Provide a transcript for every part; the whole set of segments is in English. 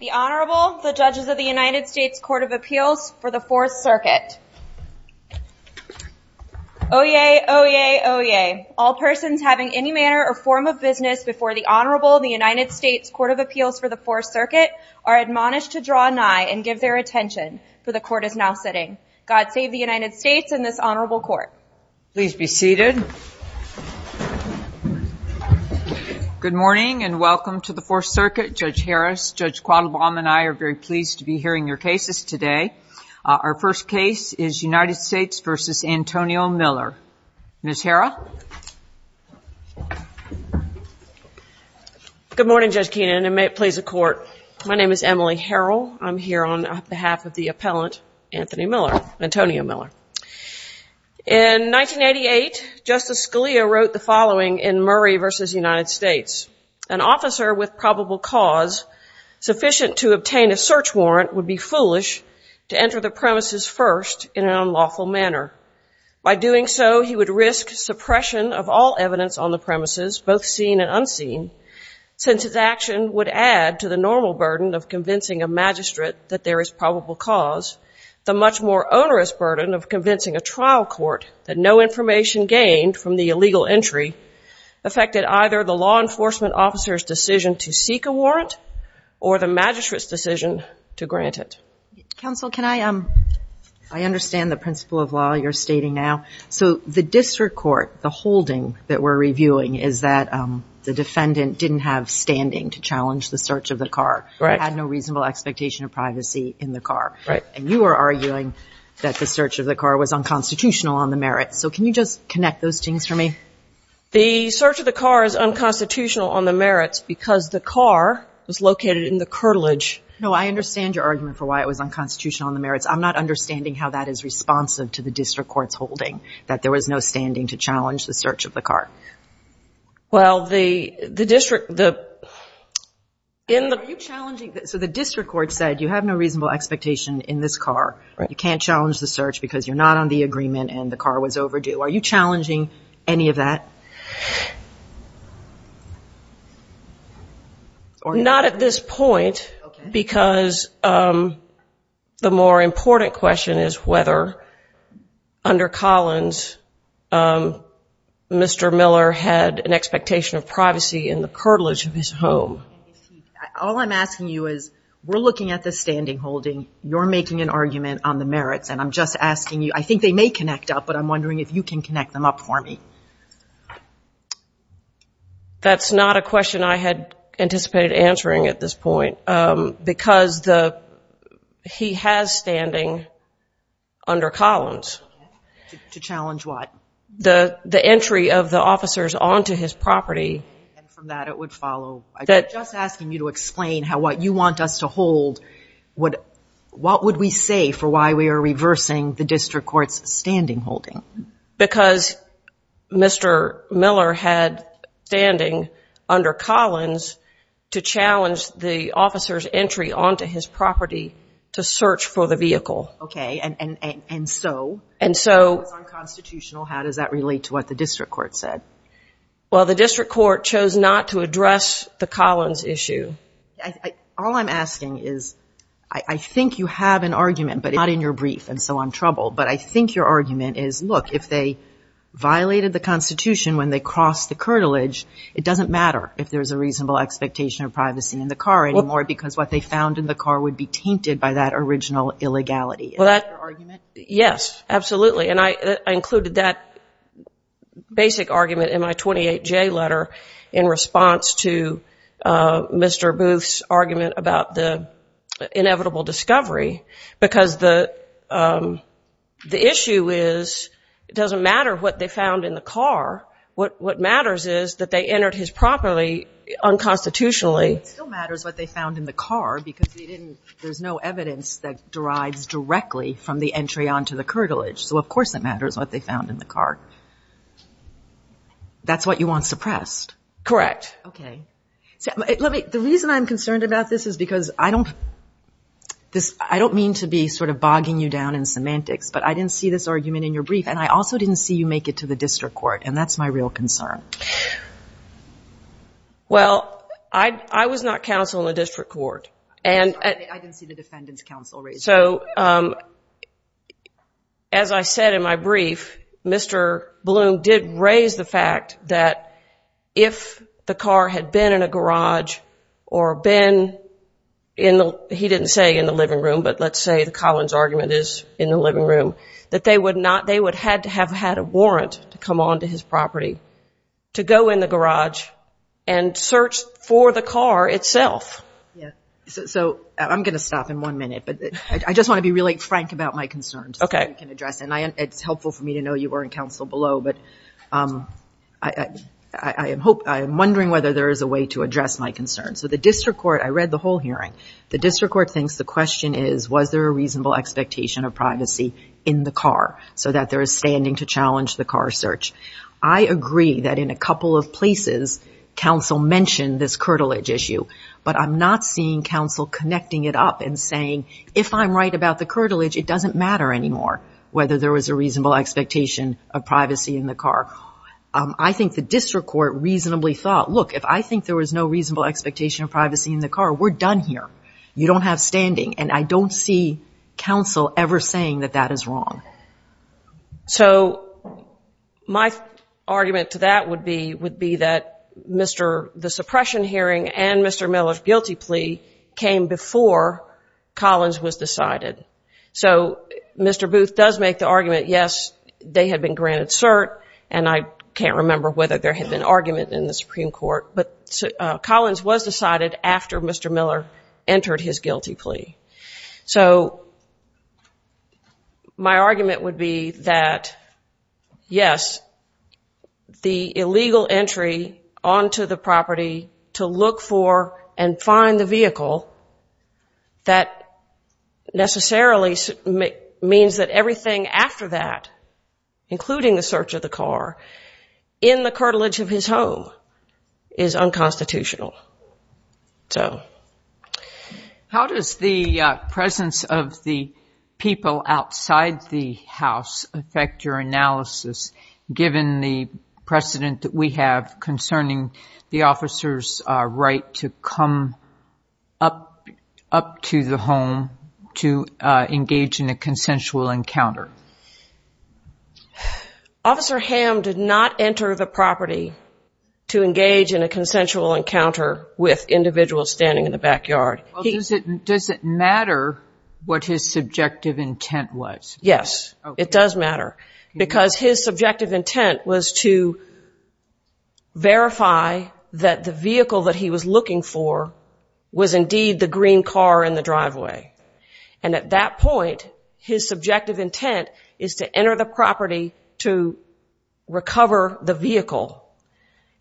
The Honorable, the Judges of the United States Court of Appeals for the Fourth Circuit. Oyez! Oyez! Oyez! All persons having any manner or form of business before the Honorable of the United States Court of Appeals for the Fourth Circuit are admonished to draw nigh and give their attention, for the Court is now sitting. God save the United States and this Honorable Court. Please be seated. Good morning and welcome to the Fourth Circuit. Judge Harris, Judge Quattlebaum and I are very pleased to be hearing your cases today. Our first case is United States v. Antonio Miller. Ms. Harrell? Good morning, Judge Keenan and may it please the Court. My name is Emily Harrell. I'm here on behalf of the appellant Anthony Miller, Antonio Miller. In 1988, Justice Scalia wrote the following in Murray v. United States. An officer with probable cause sufficient to obtain a search warrant would be foolish to enter the premises first in an unlawful manner. By doing so, he would risk suppression of all evidence on the premises, both seen and unseen, since his action would add to the normal burden of convincing a magistrate that there is probable cause. The much more onerous burden of convincing a trial court that no information gained from the illegal entry affected either the law enforcement officer's decision to seek a warrant or the magistrate's decision to grant it. Counsel, can I, I understand the principle of law you're stating now. So the district court, the holding that we're reviewing is that the defendant didn't have standing to challenge the search of the car, had no reasonable expectation of privacy in the car. And you are arguing that the search of the car was unconstitutional on the merits. So can you just connect those things for me? The search of the car is unconstitutional on the merits because the car was located in the curtilage. No, I understand your argument for why it was unconstitutional on the merits. I'm not understanding how that is responsive to the district court's holding, that there was no reasonable expectation in the car. Well, the district, the, in the, are you challenging, so the district court said you have no reasonable expectation in this car, you can't challenge the search because you're not on the agreement and the car was overdue. Are you challenging any of that? Not at this point, because the more important question is whether under Collins, um, Mr. Miller had an expectation of privacy in the curtilage of his home. All I'm asking you is, we're looking at the standing holding, you're making an argument on the merits, and I'm just asking you, I think they may connect up, but I'm wondering if you can connect them up for me. That's not a question I had anticipated answering at this point, um, because the, he has standing under Collins. To challenge what? The, the entry of the officers onto his property. And from that it would follow, I'm just asking you to explain how what you want us to hold, what, what would we say for why we are reversing the district court's standing holding? Because Mr. Miller had standing under Collins to challenge the officer's property to search for the vehicle. Okay. And, and, and, and so. And so. It's unconstitutional. How does that relate to what the district court said? Well, the district court chose not to address the Collins issue. I, I, all I'm asking is, I, I think you have an argument, but it's not in your brief and so I'm troubled, but I think your argument is, look, if they violated the constitution when they crossed the curtilage, it doesn't matter if there's a reasonable expectation of privacy in the car anymore because what they found in the car would be tainted by that original illegality. Is that your argument? Yes, absolutely. And I, I included that basic argument in my 28J letter in response to Mr. Booth's argument about the inevitable discovery because the, the issue is it doesn't matter what they found in the car. What, what matters is that they entered his property unconstitutionally. It still matters what they found in the car because they didn't, there's no evidence that derives directly from the entry onto the curtilage. So of course it matters what they found in the car. That's what you want suppressed. Correct. Okay. Let me, the reason I'm concerned about this is because I don't, this, I don't mean to be sort of bogging you down in semantics, but I didn't see this argument in your brief and I also didn't see you make it to the district court and that's my real concern. Well, I, I was not counsel in the district court and I didn't see the defendant's counsel. So, um, as I said in my brief, Mr. Bloom did raise the fact that if the car had been in a garage or been in the, he didn't say in the living room, but let's say the Collins argument is in the living room, that they would not, they would had to have had a warrant to come onto his property, to go in the garage and search for the car itself. Yeah. So I'm going to stop in one minute, but I just want to be really frank about my concerns. Okay. And I, it's helpful for me to know you were in counsel below, but, um, I, I, I am hope, I am wondering whether there is a way to address my concerns. So the district court, I read the whole hearing, the district court thinks the question is, was there a reasonable expectation of privacy in the car so that there is standing to challenge the car search? I agree that in a couple of places, counsel mentioned this curtilage issue, but I'm not seeing counsel connecting it up and saying, if I'm right about the curtilage, it doesn't matter anymore whether there was a reasonable expectation of privacy in the car. Um, I think the district court reasonably thought, look, if I think there was no reasonable expectation of privacy in the car, we're done here. You don't have standing. And I don't see counsel ever saying that that is wrong. So my argument to that would be, would be that Mr, the suppression hearing and Mr. Miller's guilty plea came before Collins was decided. So Mr. Booth does make the argument. Yes, they had been granted cert and I can't remember whether there had been argument in the Supreme court, but Collins was decided after Mr. Miller entered his guilty plea. So my argument would be that, yes, the illegal entry onto the property to look for and find the vehicle that necessarily means that everything after that, including the search of the car in the curtilage of his unconstitutional. So how does the presence of the people outside the house affect your analysis given the precedent that we have concerning the officer's right to come up up to the home to engage in a consensual encounter? Officer Ham did not enter the property to engage in a consensual encounter with individuals standing in the backyard. Does it matter what his subjective intent was? Yes, it does matter because his subjective intent was to verify that the vehicle that he was looking for was indeed the green car in the driveway. And at that point, his subjective intent is to enter the property to recover the vehicle.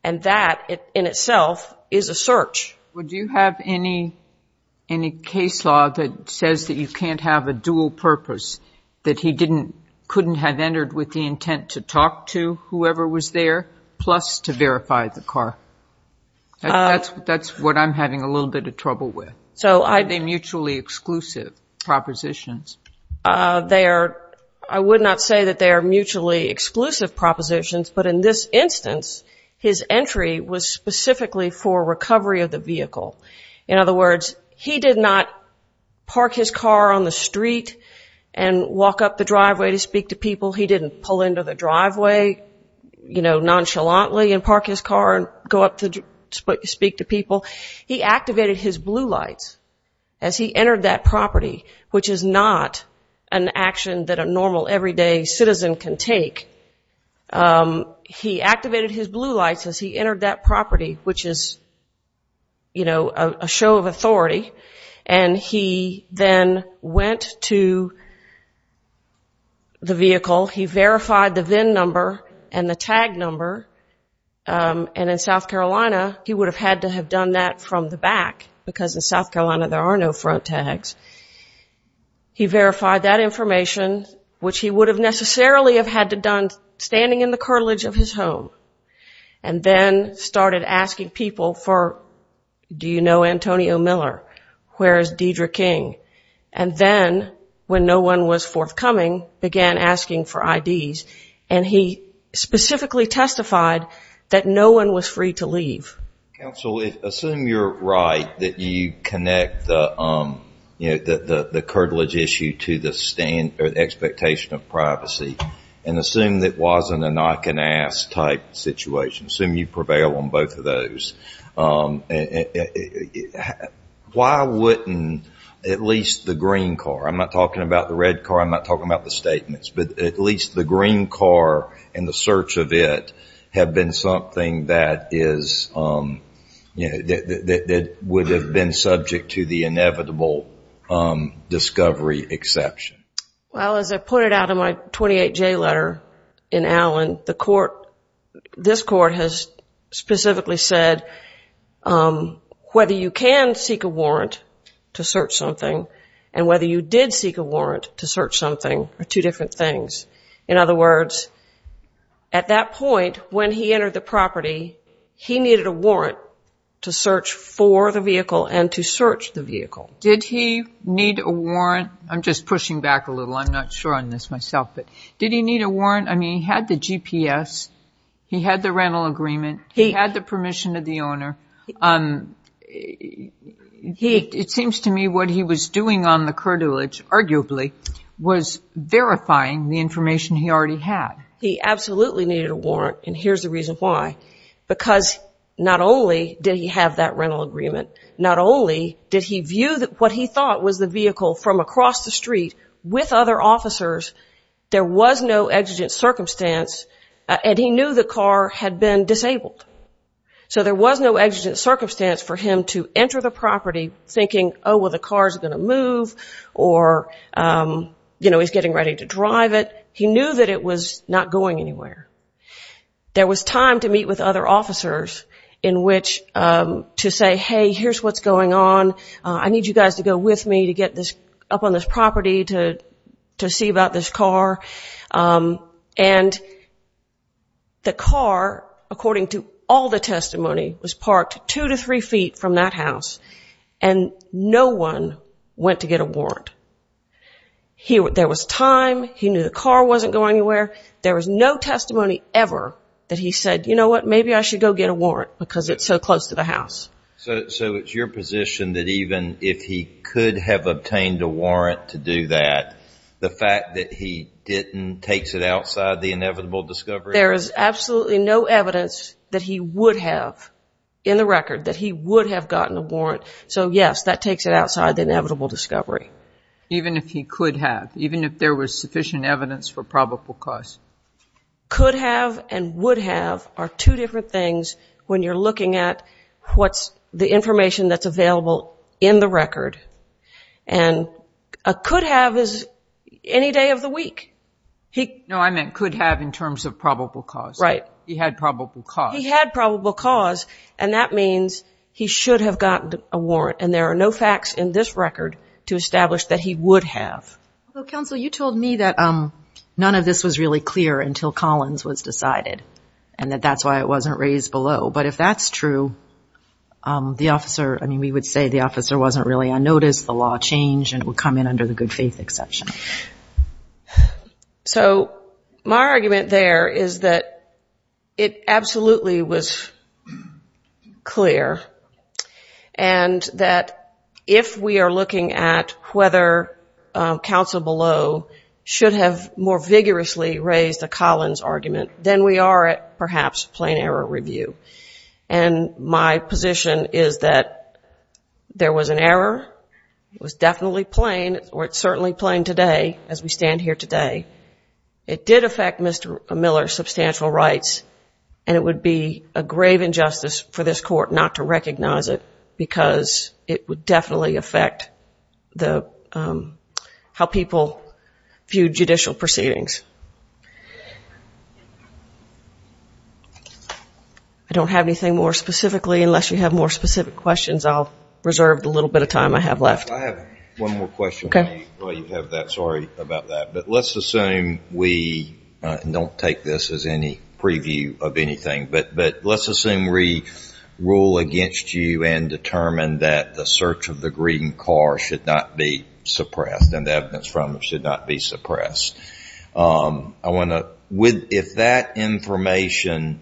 And that in itself is a search. Would you have any case law that says that you can't have a dual purpose, that he couldn't have entered with the intent to talk to whoever was there plus to verify the car? That's what I'm having a little bit of trouble with. So are they mutually exclusive propositions? They are, I would not say that they are mutually exclusive propositions, but in this instance, his entry was specifically for recovery of the vehicle. In other words, he did not park his car on the street and walk up the driveway to speak to people. He didn't pull into the driveway, nonchalantly, and park his car and go up to speak to people. He activated his blue lights as he entered that property, which is not an action that a normal everyday citizen can take. He activated his blue lights as he entered that property, which is a show of authority. And he then went to the vehicle. He verified the VIN number and the tag number. And in South Carolina, he would have had to have done that from the back, because in South Carolina there are no front tags. He verified that information, which he would have necessarily have had to done standing in the cartilage of his home, and then started asking people for, do you know Antonio Miller? Where is Deidre King? And then, when no one was forthcoming, began asking for IDs. And he specifically testified that no one was free to leave. Counsel, assume you're right, that you connect the, you know, the cartilage issue to the expectation of privacy, and assume that wasn't a knock-and-ask type situation. Assume you prevail on both of them. Why wouldn't at least the green car, I'm not talking about the red car, I'm not talking about the statements, but at least the green car and the search of it have been something that is, you know, that would have been subject to the inevitable discovery exception? Well, as I pointed out in my 28J letter in Allen, the court, this court has specifically said, whether you can seek a warrant to search something, and whether you did seek a warrant to search something are two different things. In other words, at that point, when he entered the property, he needed a warrant to search for the vehicle and to search the vehicle. Did he need a warrant? I'm just pushing back a little, I'm not sure on this myself, but did he need a warrant? I mean, he had the GPS, he had the rental agreement, he had the permission of the owner. It seems to me what he was doing on the curtilage, arguably, was verifying the information he already had. He absolutely needed a warrant, and here's the reason why. Because not only did he have that rental agreement, not only did he view what he thought was the vehicle from across the street with other officers, there was no exigent circumstance, and he knew the car had been disabled. So there was no exigent circumstance for him to enter the property thinking, oh, well, the car's going to move, or, you know, he's getting ready to drive it. He knew that it was not going anywhere. There was time to meet with other officers in which to say, hey, here's what's going on, I need you guys to go with me to get up on this property to see about this car. And the car, according to all the testimony, was parked two to three feet from that house, and no one went to get a warrant. There was time, he knew the car wasn't going anywhere, there was no testimony ever that he said, you know what, maybe I should go get a warrant because it's so close to the house. So it's your position that even if he could have obtained a warrant to do that, the fact that he didn't takes it outside the inevitable discovery? There is absolutely no evidence that he would have, in the record, that he would have gotten a warrant. So, yes, that takes it outside the inevitable discovery. Even if he could have, even if there was sufficient evidence for probable cause? Could have and would have are two different things when you're looking at what's the information that's available in the record. And a could have is any day of the week. No, I meant could have in terms of probable cause. He had probable cause. He had probable cause, and that means he should have gotten a warrant. And there are no facts in this record to establish that he would have. Counsel, you told me that none of this was really clear until Collins was decided and that that's why it wasn't raised below. But if that's true, the officer, I mean, we would say the officer wasn't really unnoticed, the law changed, and it would come in under the good faith exception. So my argument there is that it absolutely was clear and that if we are looking at whether or not counsel below should have more vigorously raised a Collins argument, then we are at perhaps plain error review. And my position is that there was an error. It was definitely plain, or it's certainly plain today as we stand here today. It did affect Mr. Miller's substantial rights, and it would be a grave injustice for this court not to recognize it because it would definitely affect how people view judicial proceedings. I don't have anything more specifically. Unless you have more specific questions, I'll reserve the little bit of time I have left. I have one more question while you have that. Sorry about that. But let's assume we don't take this as any preview of anything, but let's assume we rule against you and determine that the search of the green car should not be suppressed and the evidence from it should not be suppressed. If that information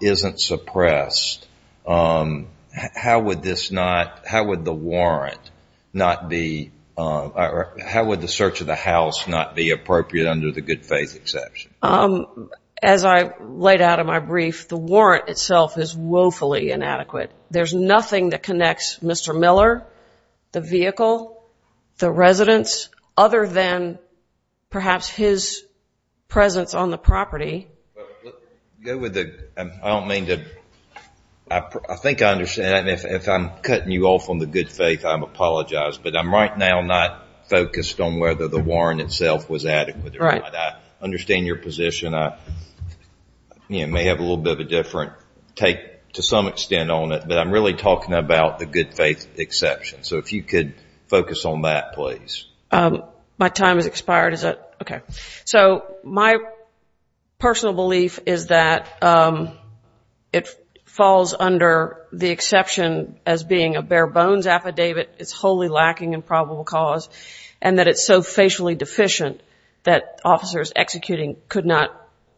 isn't suppressed, how would the warrant not be or how would the search of the house not be appropriate under the good faith exception? As I laid out in my brief, the warrant itself is woefully inadequate. There's nothing that connects Mr. Miller, the vehicle, the residence, other than perhaps his presence on the property. I think I understand. If I'm cutting you off on the good faith, I apologize. But I'm right now not focused on whether the warrant itself was adequate. I understand your position. I may have a little bit of a different take to some extent on it, but I'm really talking about the good faith exception. So if you could focus on that, please. My time has expired. Okay. So my personal belief is that it falls under the exception as being a bare bones affidavit. It's wholly lacking in probable cause and that it's so facially deficient that officers executing could not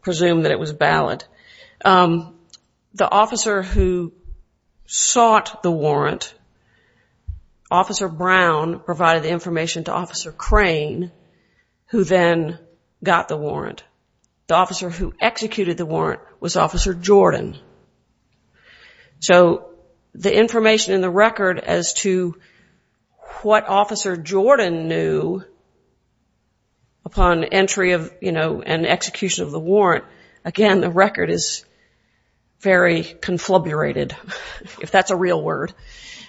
presume that it was valid. The officer who sought the warrant, Officer Brown provided the information to Officer Crane, who then got the warrant. The officer who executed the warrant was Officer Jordan. So the information in the record as to what Officer Jordan knew upon entry and execution of the warrant, again, the record is very confluburated, if that's a real word.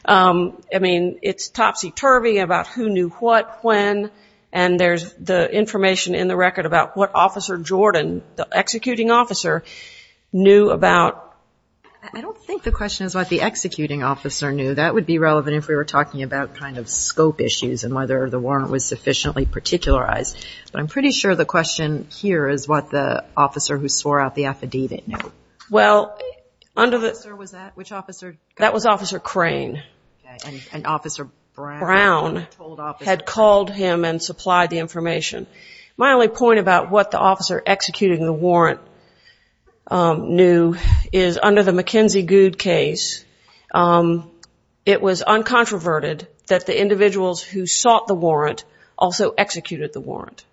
I mean, it's topsy-turvy about who knew what, when, and there's the information in the record about what Officer Jordan, the executing officer, knew about. I don't think the question is what the executing officer knew. That would be relevant if we were talking about kind of scope issues and whether the warrant was sufficiently particularized. But I'm pretty sure the question here is what the officer who swore out the affidavit knew. Well, that was Officer Crane, and Officer Brown had called him and supplied the information. My only point about what the officer executing the warrant knew is, under the McKenzie-Goud case, it was uncontroverted that the individuals who sought the warrant also executed the warrant.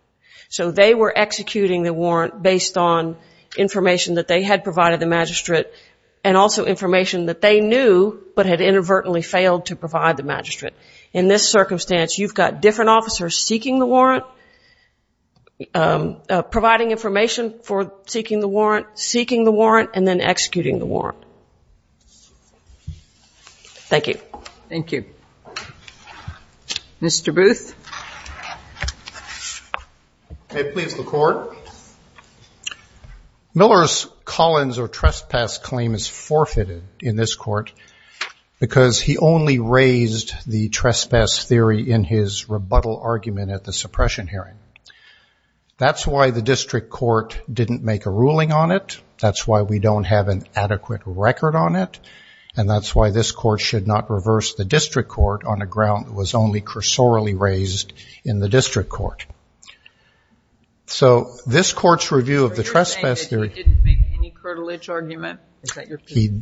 So they were executing the warrant based on information that they had provided the magistrate and also information that they knew but had inadvertently failed to provide the magistrate. In this circumstance, you've got different officers seeking the warrant, providing information for seeking the warrant, seeking the warrant, and then executing the warrant. Thank you. Thank you. Mr. Booth? May it please the Court? Miller's Collins or trespass claim is forfeited in this court because he only raised the trespass theory in his rebuttal argument at the suppression hearing. That's why the district court didn't make a ruling on it. That's why we don't have an adequate record on it, and that's why this court should not reverse the district court on a ground that was only cursorily raised in the district court. So this court's review of the trespass theory- Are you saying that he didn't make any curtilage argument?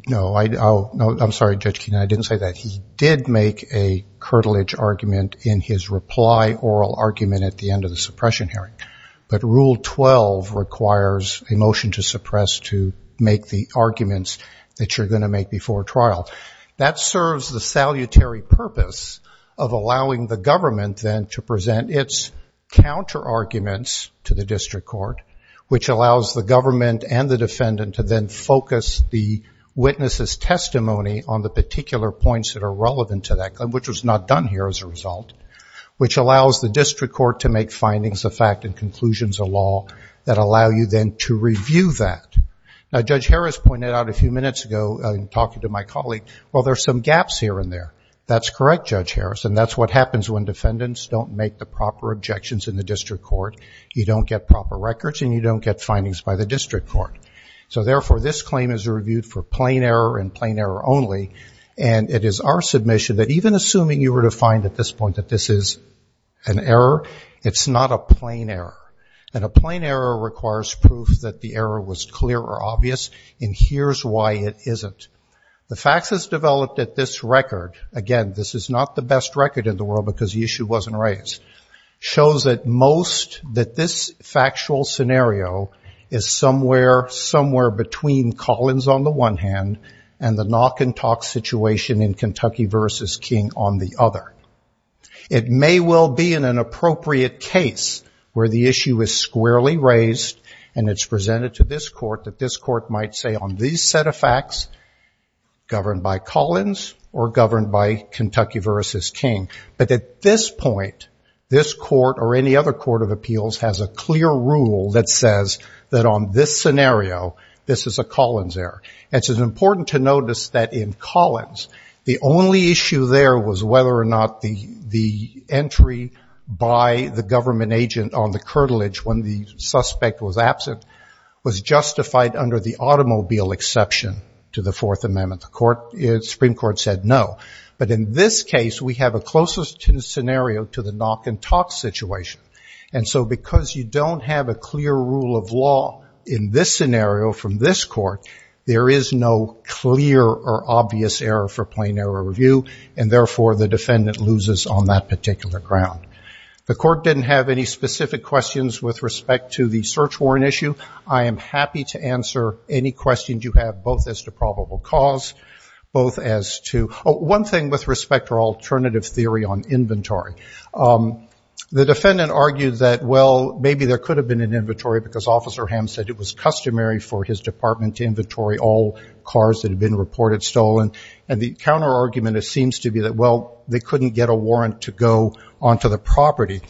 No, I'm sorry, Judge Keenan, I didn't say that. He did make a curtilage argument in his reply oral argument at the end of the suppression hearing, but Rule 12 requires a motion to suppress to make the arguments that you're going to make before trial. That serves the salutary purpose of allowing the government then to present its counterarguments to the district court, which allows the government and the defendant to then focus the witness's testimony on the particular points that are relevant to that, which was not done here as a result, which allows the district court to make findings of fact and conclusions of law that allow you then to review that. Now, Judge Harris pointed out a few minutes ago in talking to my colleague, well, there's some gaps here and there. That's correct, Judge Harris, and that's what happens when defendants don't make the proper objections in the district court. You don't get proper records and you don't get findings by the district court. So, therefore, this claim is reviewed for plain error and plain error only, and it is our submission that even assuming you were to find at this point that this is an error, it's not a plain error. And a plain error requires proof that the error was clear or obvious, and here's why it isn't. The facts as developed at this record, again, this is not the best record in the world because the issue wasn't raised, shows at most that this factual scenario is somewhere between Collins on the one hand and the knock-and-talk situation in Kentucky v. King on the other. It may well be in an appropriate case where the issue is squarely raised and it's presented to this court that this court might say on this set of facts, governed by Collins or governed by Kentucky v. King, but at this point, this court or any other court of appeals has a clear rule that says that on this scenario, this is a Collins error. And it's important to notice that in Collins, the only issue there was whether or not the entry by the government agent on the curtilage when the suspect was absent was justified under the automobile exception to the Fourth Amendment. The Supreme Court said no. But in this case, we have a closest scenario to the knock-and-talk situation. And so because you don't have a clear rule of law in this scenario from this court, there is no clear or obvious error for plain error review, and therefore the defendant loses on that particular ground. The court didn't have any specific questions with respect to the search warrant issue. I am happy to answer any questions you have, both as to probable cause, both as to one thing with respect to alternative theory on inventory. The defendant argued that, well, maybe there could have been an inventory because Officer Ham said it was customary for his department to inventory all cars that had been reported stolen. And the counterargument seems to be that, well, they couldn't get a warrant to go onto the property.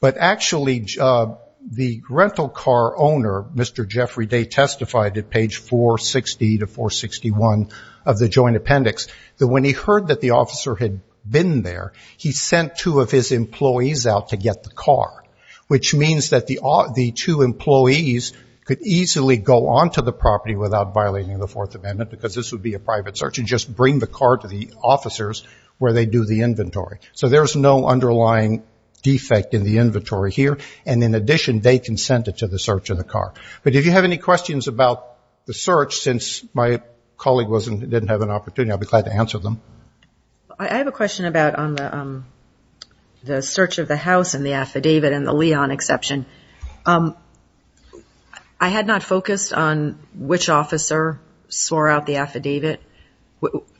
But actually, the rental car owner, Mr. Jeffrey Day, testified at page 460 to 461 of the joint appendix that when he heard that the officer had been there, he sent two of his employees out to get the car, which means that the two employees could easily go onto the property without violating the Fourth Amendment because this would be a private search and just bring the car to the officers where they do the inventory. So there's no underlying defect in the inventory here. And in addition, they consented to the search of the car. But if you have any questions about the search, since my colleague didn't have an opportunity, I'd be glad to answer them. I have a question about the search of the house and the affidavit and the Leon exception. I had not focused on which officer swore out the affidavit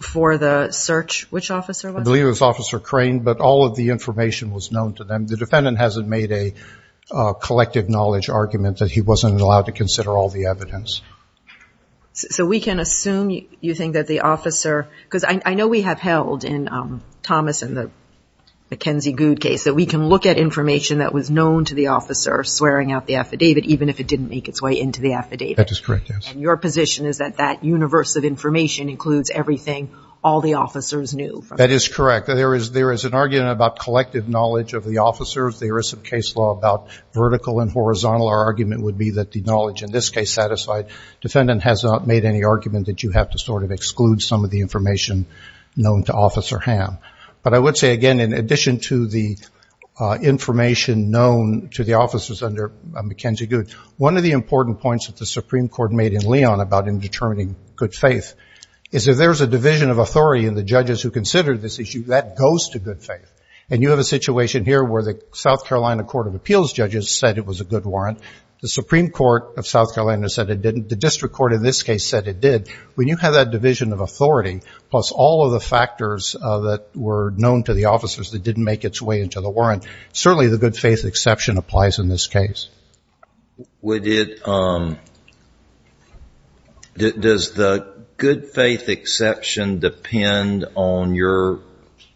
for the search. Which officer was it? I believe it was Officer Crane, but all of the information was known to them. The defendant hasn't made a collective knowledge argument that he wasn't allowed to consider all the evidence. So we can assume you think that the officer, because I know we have held in Thomas and the McKenzie-Goud case, that we can look at information that was known to the officer swearing out the affidavit, even if it didn't make its way into the affidavit. That is correct, yes. And your position is that that universe of information includes everything all the officers knew. That is correct. There is an argument about collective knowledge of the officers. There is some case law about vertical and horizontal. Our argument would be that the knowledge in this case satisfied. Defendant has not made any argument that you have to sort of exclude some of the information known to Officer Ham. But I would say, again, in addition to the information known to the officers under McKenzie-Goud, one of the important points that the Supreme Court made in Leon about indeterminate good faith is if there is a division of authority in the judges who consider this issue, that goes to good faith. And you have a situation here where the South Carolina Court of Appeals judges said it was a good warrant. The Supreme Court of South Carolina said it didn't. The district court in this case said it did. When you have that division of authority, plus all of the factors that were known to the officers that didn't make its way into the warrant, certainly the good faith exception applies in this case. Does the good faith exception depend on your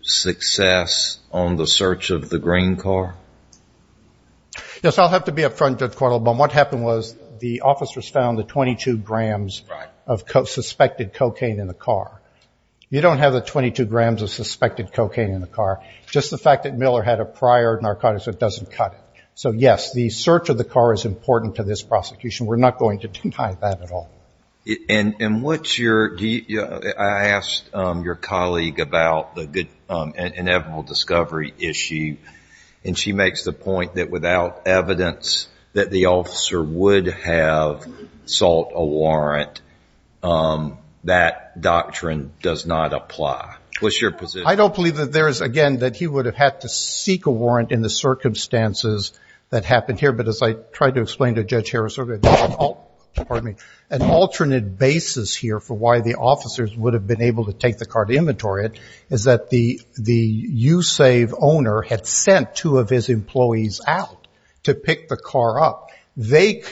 success on the search of the green car? Yes, I'll have to be up front, Judge Cardinal. But what happened was the officers found the 22 grams of suspected cocaine in the car. You don't have the 22 grams of suspected cocaine in the car, just the fact that Miller had a prior narcotics that doesn't cut it. So, yes, the search of the car is important to this prosecution. We're not going to deny that at all. And I asked your colleague about the inevitable discovery issue, and she makes the point that without evidence that the officer would have sought a warrant, that doctrine does not apply. What's your position? I don't believe that there is, again, that he would have had to seek a warrant in the circumstances that happened here. But as I tried to explain to Judge Harris earlier, an alternate basis here for why the officers would have been able to take the car to inventory it is that the USAVE owner had sent two of his employees out to pick the car up. They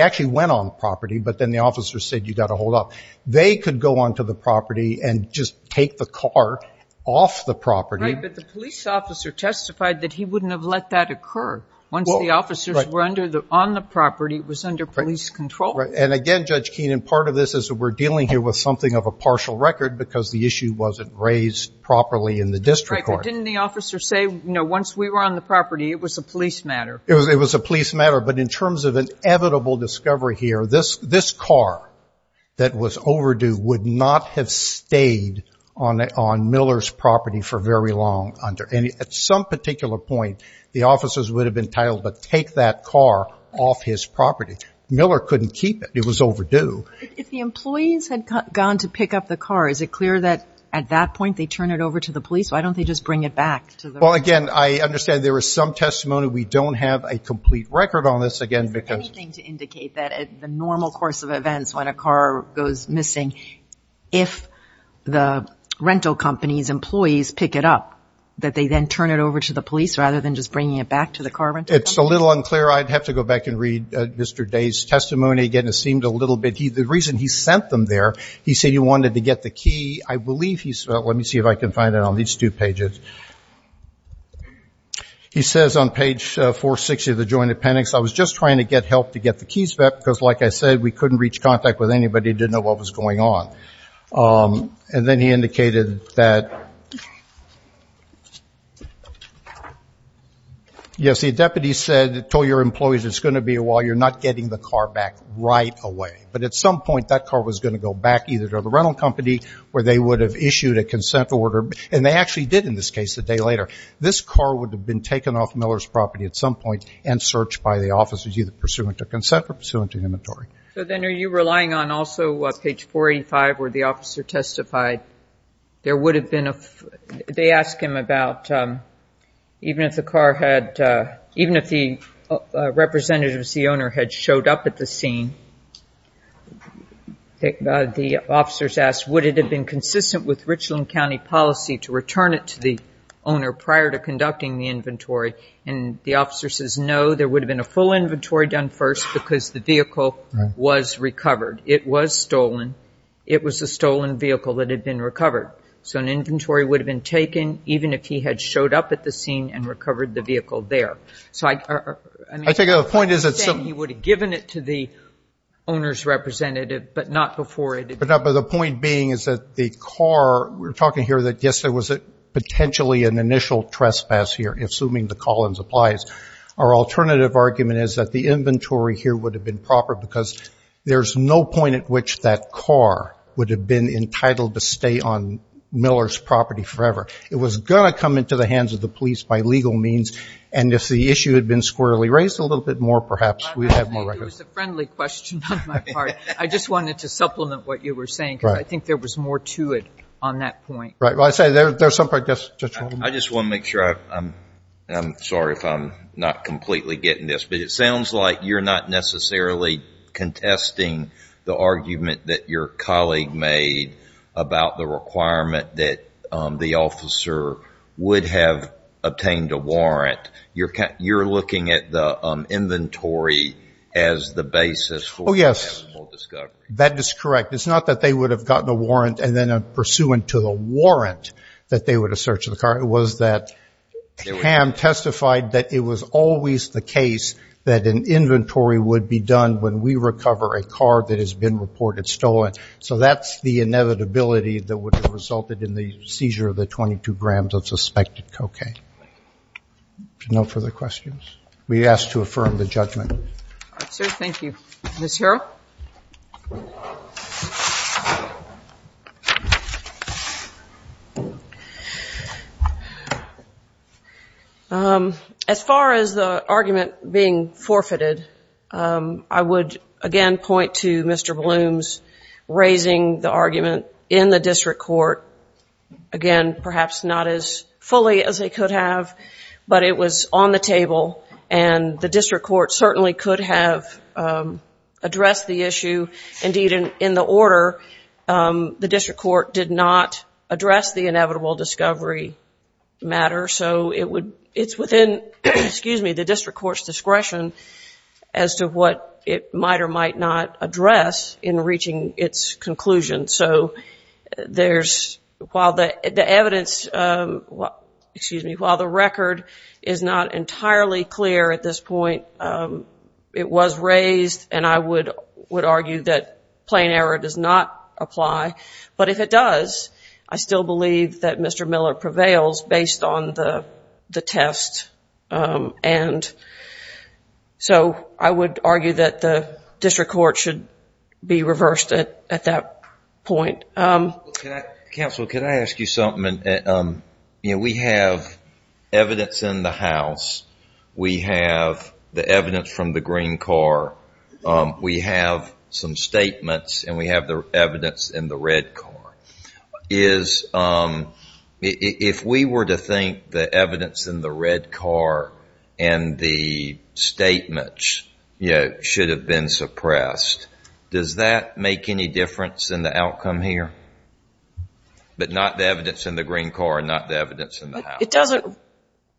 actually went on property, but then the officers said, you've got to hold off. They could go onto the property and just take the car off the property. Right, but the police officer testified that he wouldn't have let that occur. Once the officers were on the property, it was under police control. And again, Judge Keenan, part of this is that we're dealing here with something of a partial record because the issue wasn't raised properly in the district court. Right, but didn't the officer say, you know, once we were on the property, it was a police matter? It was a police matter. But in terms of an inevitable discovery here, this car that was overdue would not have stayed on Miller's property for very long. And at some particular point, the officers would have been entitled to take that car off his property. Miller couldn't keep it. It was overdue. But if the employees had gone to pick up the car, is it clear that at that point they turn it over to the police? Why don't they just bring it back? Well, again, I understand there was some testimony. We don't have a complete record on this. Anything to indicate that at the normal course of events when a car goes missing, if the rental company's employees pick it up, that they then turn it over to the police rather than just bringing it back to the car rental company? It's a little unclear. I'd have to go back and read Mr. Day's testimony. Again, it seemed a little bit – the reason he sent them there, he said he wanted to get the key. I believe he – let me see if I can find it on these two pages. He says on page 460 of the joint appendix, I was just trying to get help to get the keys back because, like I said, we couldn't reach contact with anybody who didn't know what was going on. And then he indicated that – yes, the deputy said, told your employees it's going to be a while, you're not getting the car back right away. But at some point, that car was going to go back either to the rental company where they would have issued a consent order, and they actually did in this case the day later. This car would have been taken off Miller's property at some point and searched by the officers either pursuant to consent or pursuant to inventory. So then are you relying on also page 485 where the officer testified there would have been – they asked him about even if the car had – even if the representatives, the owner, had showed up at the scene, the officers asked would it have been consistent with Richland County policy to return it to the owner prior to conducting the inventory. And the officer says no, there would have been a full inventory done first because the vehicle was recovered. It was stolen. It was a stolen vehicle that had been recovered. So an inventory would have been taken even if he had showed up at the scene and recovered the vehicle there. I take it the point is that some – He would have given it to the owner's representative, but not before it had been – But the point being is that the car – we're talking here that, yes, there was potentially an initial trespass here, assuming the Collins applies. Our alternative argument is that the inventory here would have been proper because there's no point at which that car would have been entitled to stay on Miller's property forever. It was going to come into the hands of the police by legal means, and if the issue had been squarely raised a little bit more, perhaps we'd have more records. I think it was a friendly question on my part. I just wanted to supplement what you were saying because I think there was more to it on that point. Right. Well, I say there's some – I just want to make sure. I'm sorry if I'm not completely getting this, but it sounds like you're not necessarily contesting the argument that your colleague made about the requirement that the officer would have obtained a warrant. You're looking at the inventory as the basis for a possible discovery. Oh, yes. That is correct. It's not that they would have gotten a warrant, and then pursuant to the warrant that they would have searched the car. It was that Ham testified that it was always the case that an inventory would be done when we recover a car that has been reported stolen. So that's the inevitability that would have resulted in the seizure of the 22 grams of suspected cocaine. No further questions? We ask to affirm the judgment. Sir, thank you. Ms. Harrell? As far as the argument being forfeited, I would, again, point to Mr. Bloom's raising the argument in the district court. Again, perhaps not as fully as they could have, but it was on the table, and the district court certainly could have addressed the issue. Indeed, in the order, the district court did not address the inevitable discovery matter. So it's within the district court's discretion as to what it might or might not address in reaching its conclusion. So while the record is not entirely clear at this point, it was raised, and I would argue that plain error does not apply. But if it does, I still believe that Mr. Miller prevails based on the test. And so I would argue that the district court should be reversed at that point. Counsel, can I ask you something? We have evidence in the House. We have the evidence from the green car. We have some statements, and we have the evidence in the red car. If we were to think the evidence in the red car and the statements should have been suppressed, does that make any difference in the outcome here? But not the evidence in the green car and not the evidence in the House. It doesn't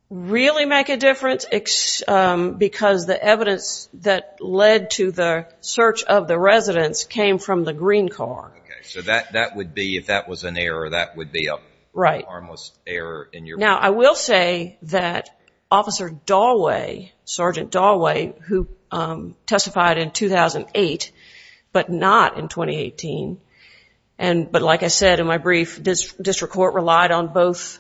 really make a difference because the evidence that led to the search of the residents came from the green car. Okay, so that would be, if that was an error, that would be a harmless error. Now, I will say that Officer Dalway, Sergeant Dalway, who testified in 2008 but not in 2018, but like I said in my brief, district court relied on both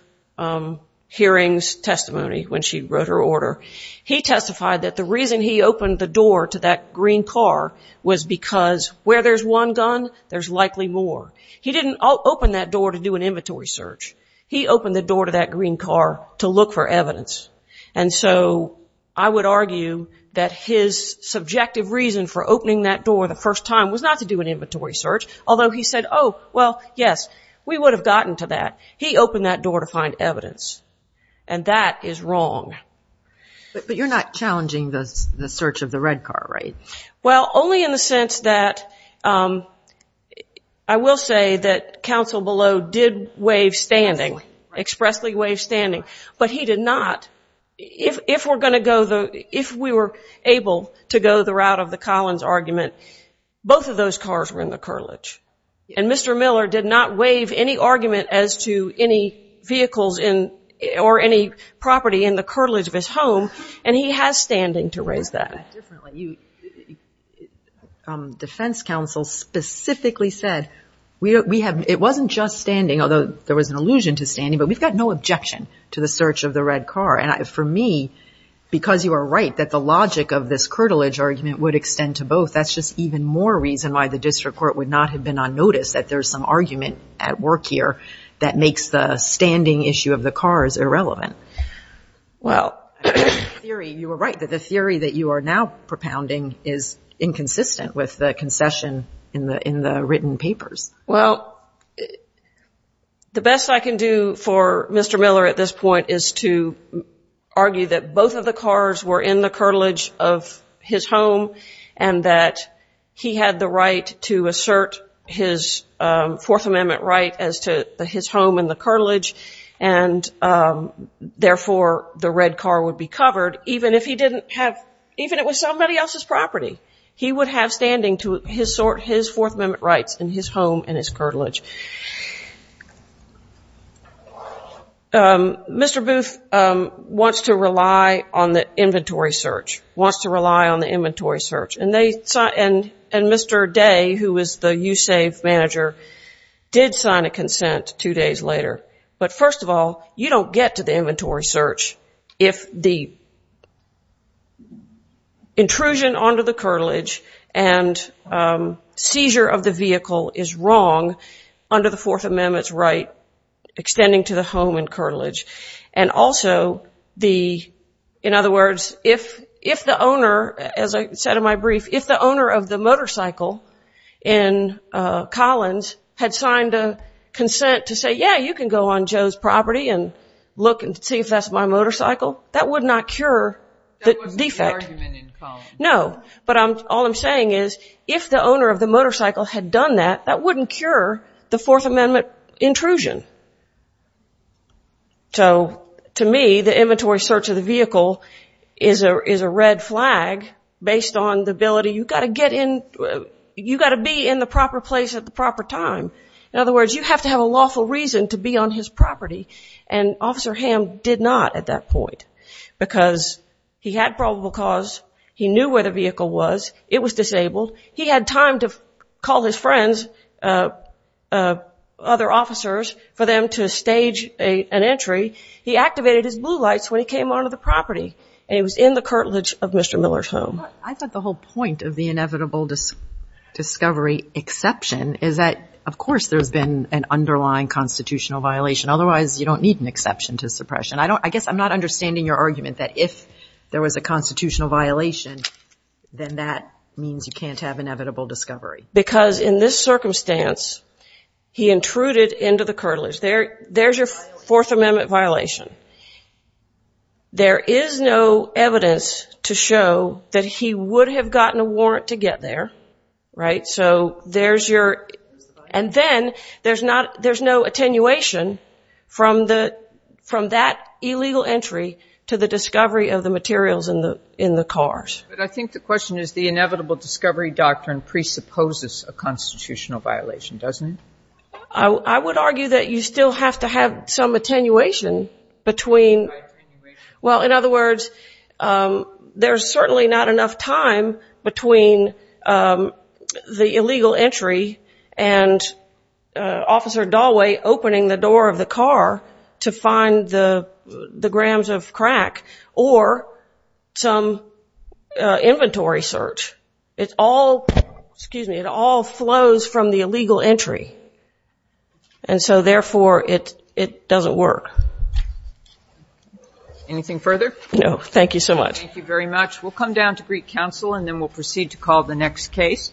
hearings, testimony when she wrote her order. He testified that the reason he opened the door to that green car was because where there's one gun, there's likely more. He didn't open that door to do an inventory search. He opened the door to that green car to look for evidence. And so I would argue that his subjective reason for opening that door the first time was not to do an inventory search, although he said, oh, well, yes, we would have gotten to that. He opened that door to find evidence, and that is wrong. But you're not challenging the search of the red car, right? Well, only in the sense that I will say that counsel below did waive standing, expressly waive standing, but he did not. If we were able to go the route of the Collins argument, both of those cars were in the cartilage. And Mr. Miller did not waive any argument as to any vehicles or any property in the cartilage of his home, and he has standing to raise that. You said that differently. Defense counsel specifically said, it wasn't just standing, although there was an allusion to standing, but we've got no objection to the search of the red car. And for me, because you are right that the logic of this cartilage argument would extend to both, that's just even more reason why the district court would not have been unnoticed, that there's some argument at work here that makes the standing issue of the cars irrelevant. Well, I think the theory, you were right, that the theory that you are now propounding is inconsistent with the concession in the written papers. Well, the best I can do for Mr. Miller at this point is to argue that both of the cars were in the cartilage of his home and that he had the right to assert his Fourth Amendment right as to his home in the cartilage, and therefore the red car would be covered even if he didn't have, even if it was somebody else's property. He would have standing to his Fourth Amendment rights in his home and his cartilage. Mr. Booth wants to rely on the inventory search, wants to rely on the inventory search, and Mr. Day, who was the USAVE manager, did sign a consent two days later. But first of all, you don't get to the inventory search if the intrusion onto the cartilage and seizure of the vehicle is wrong under the Fourth Amendment's right extending to the home and cartilage. And also, in other words, if the owner, as I said in my brief, if the owner of the motorcycle in Collins had signed a consent to say, yeah, you can go on Joe's property and look and see if that's my motorcycle, that would not cure the defect. That wasn't your argument in Collins. No, but all I'm saying is if the owner of the motorcycle had done that, that wouldn't cure the Fourth Amendment intrusion. So to me, the inventory search of the vehicle is a red flag based on the ability, you've got to get in, you've got to be in the proper place at the proper time. In other words, you have to have a lawful reason to be on his property. And Officer Hamm did not at that point because he had probable cause, he knew where the vehicle was, it was disabled, he had time to call his friends, other officers, for them to stage an entry. He activated his blue lights when he came onto the property and it was in the cartilage of Mr. Miller's home. I thought the whole point of the inevitable discovery exception is that, of course, there's been an underlying constitutional violation. Otherwise, you don't need an exception to suppression. I guess I'm not understanding your argument that if there was a constitutional violation, then that means you can't have inevitable discovery. Because in this circumstance, he intruded into the cartilage. There's your Fourth Amendment violation. There is no evidence to show that he would have gotten a warrant to get there, right? And then there's no attenuation from that illegal entry to the discovery of the materials in the cars. But I think the question is the inevitable discovery doctrine presupposes a constitutional violation, doesn't it? I would argue that you still have to have some attenuation between. Well, in other words, there's certainly not enough time between the illegal entry and Officer Dallway opening the door of the car to find the grams of crack or some inventory search. It all flows from the illegal entry. And so, therefore, it doesn't work. Anything further? No. Thank you so much. Thank you very much. We'll come down to Greek counsel, and then we'll proceed to call the next case.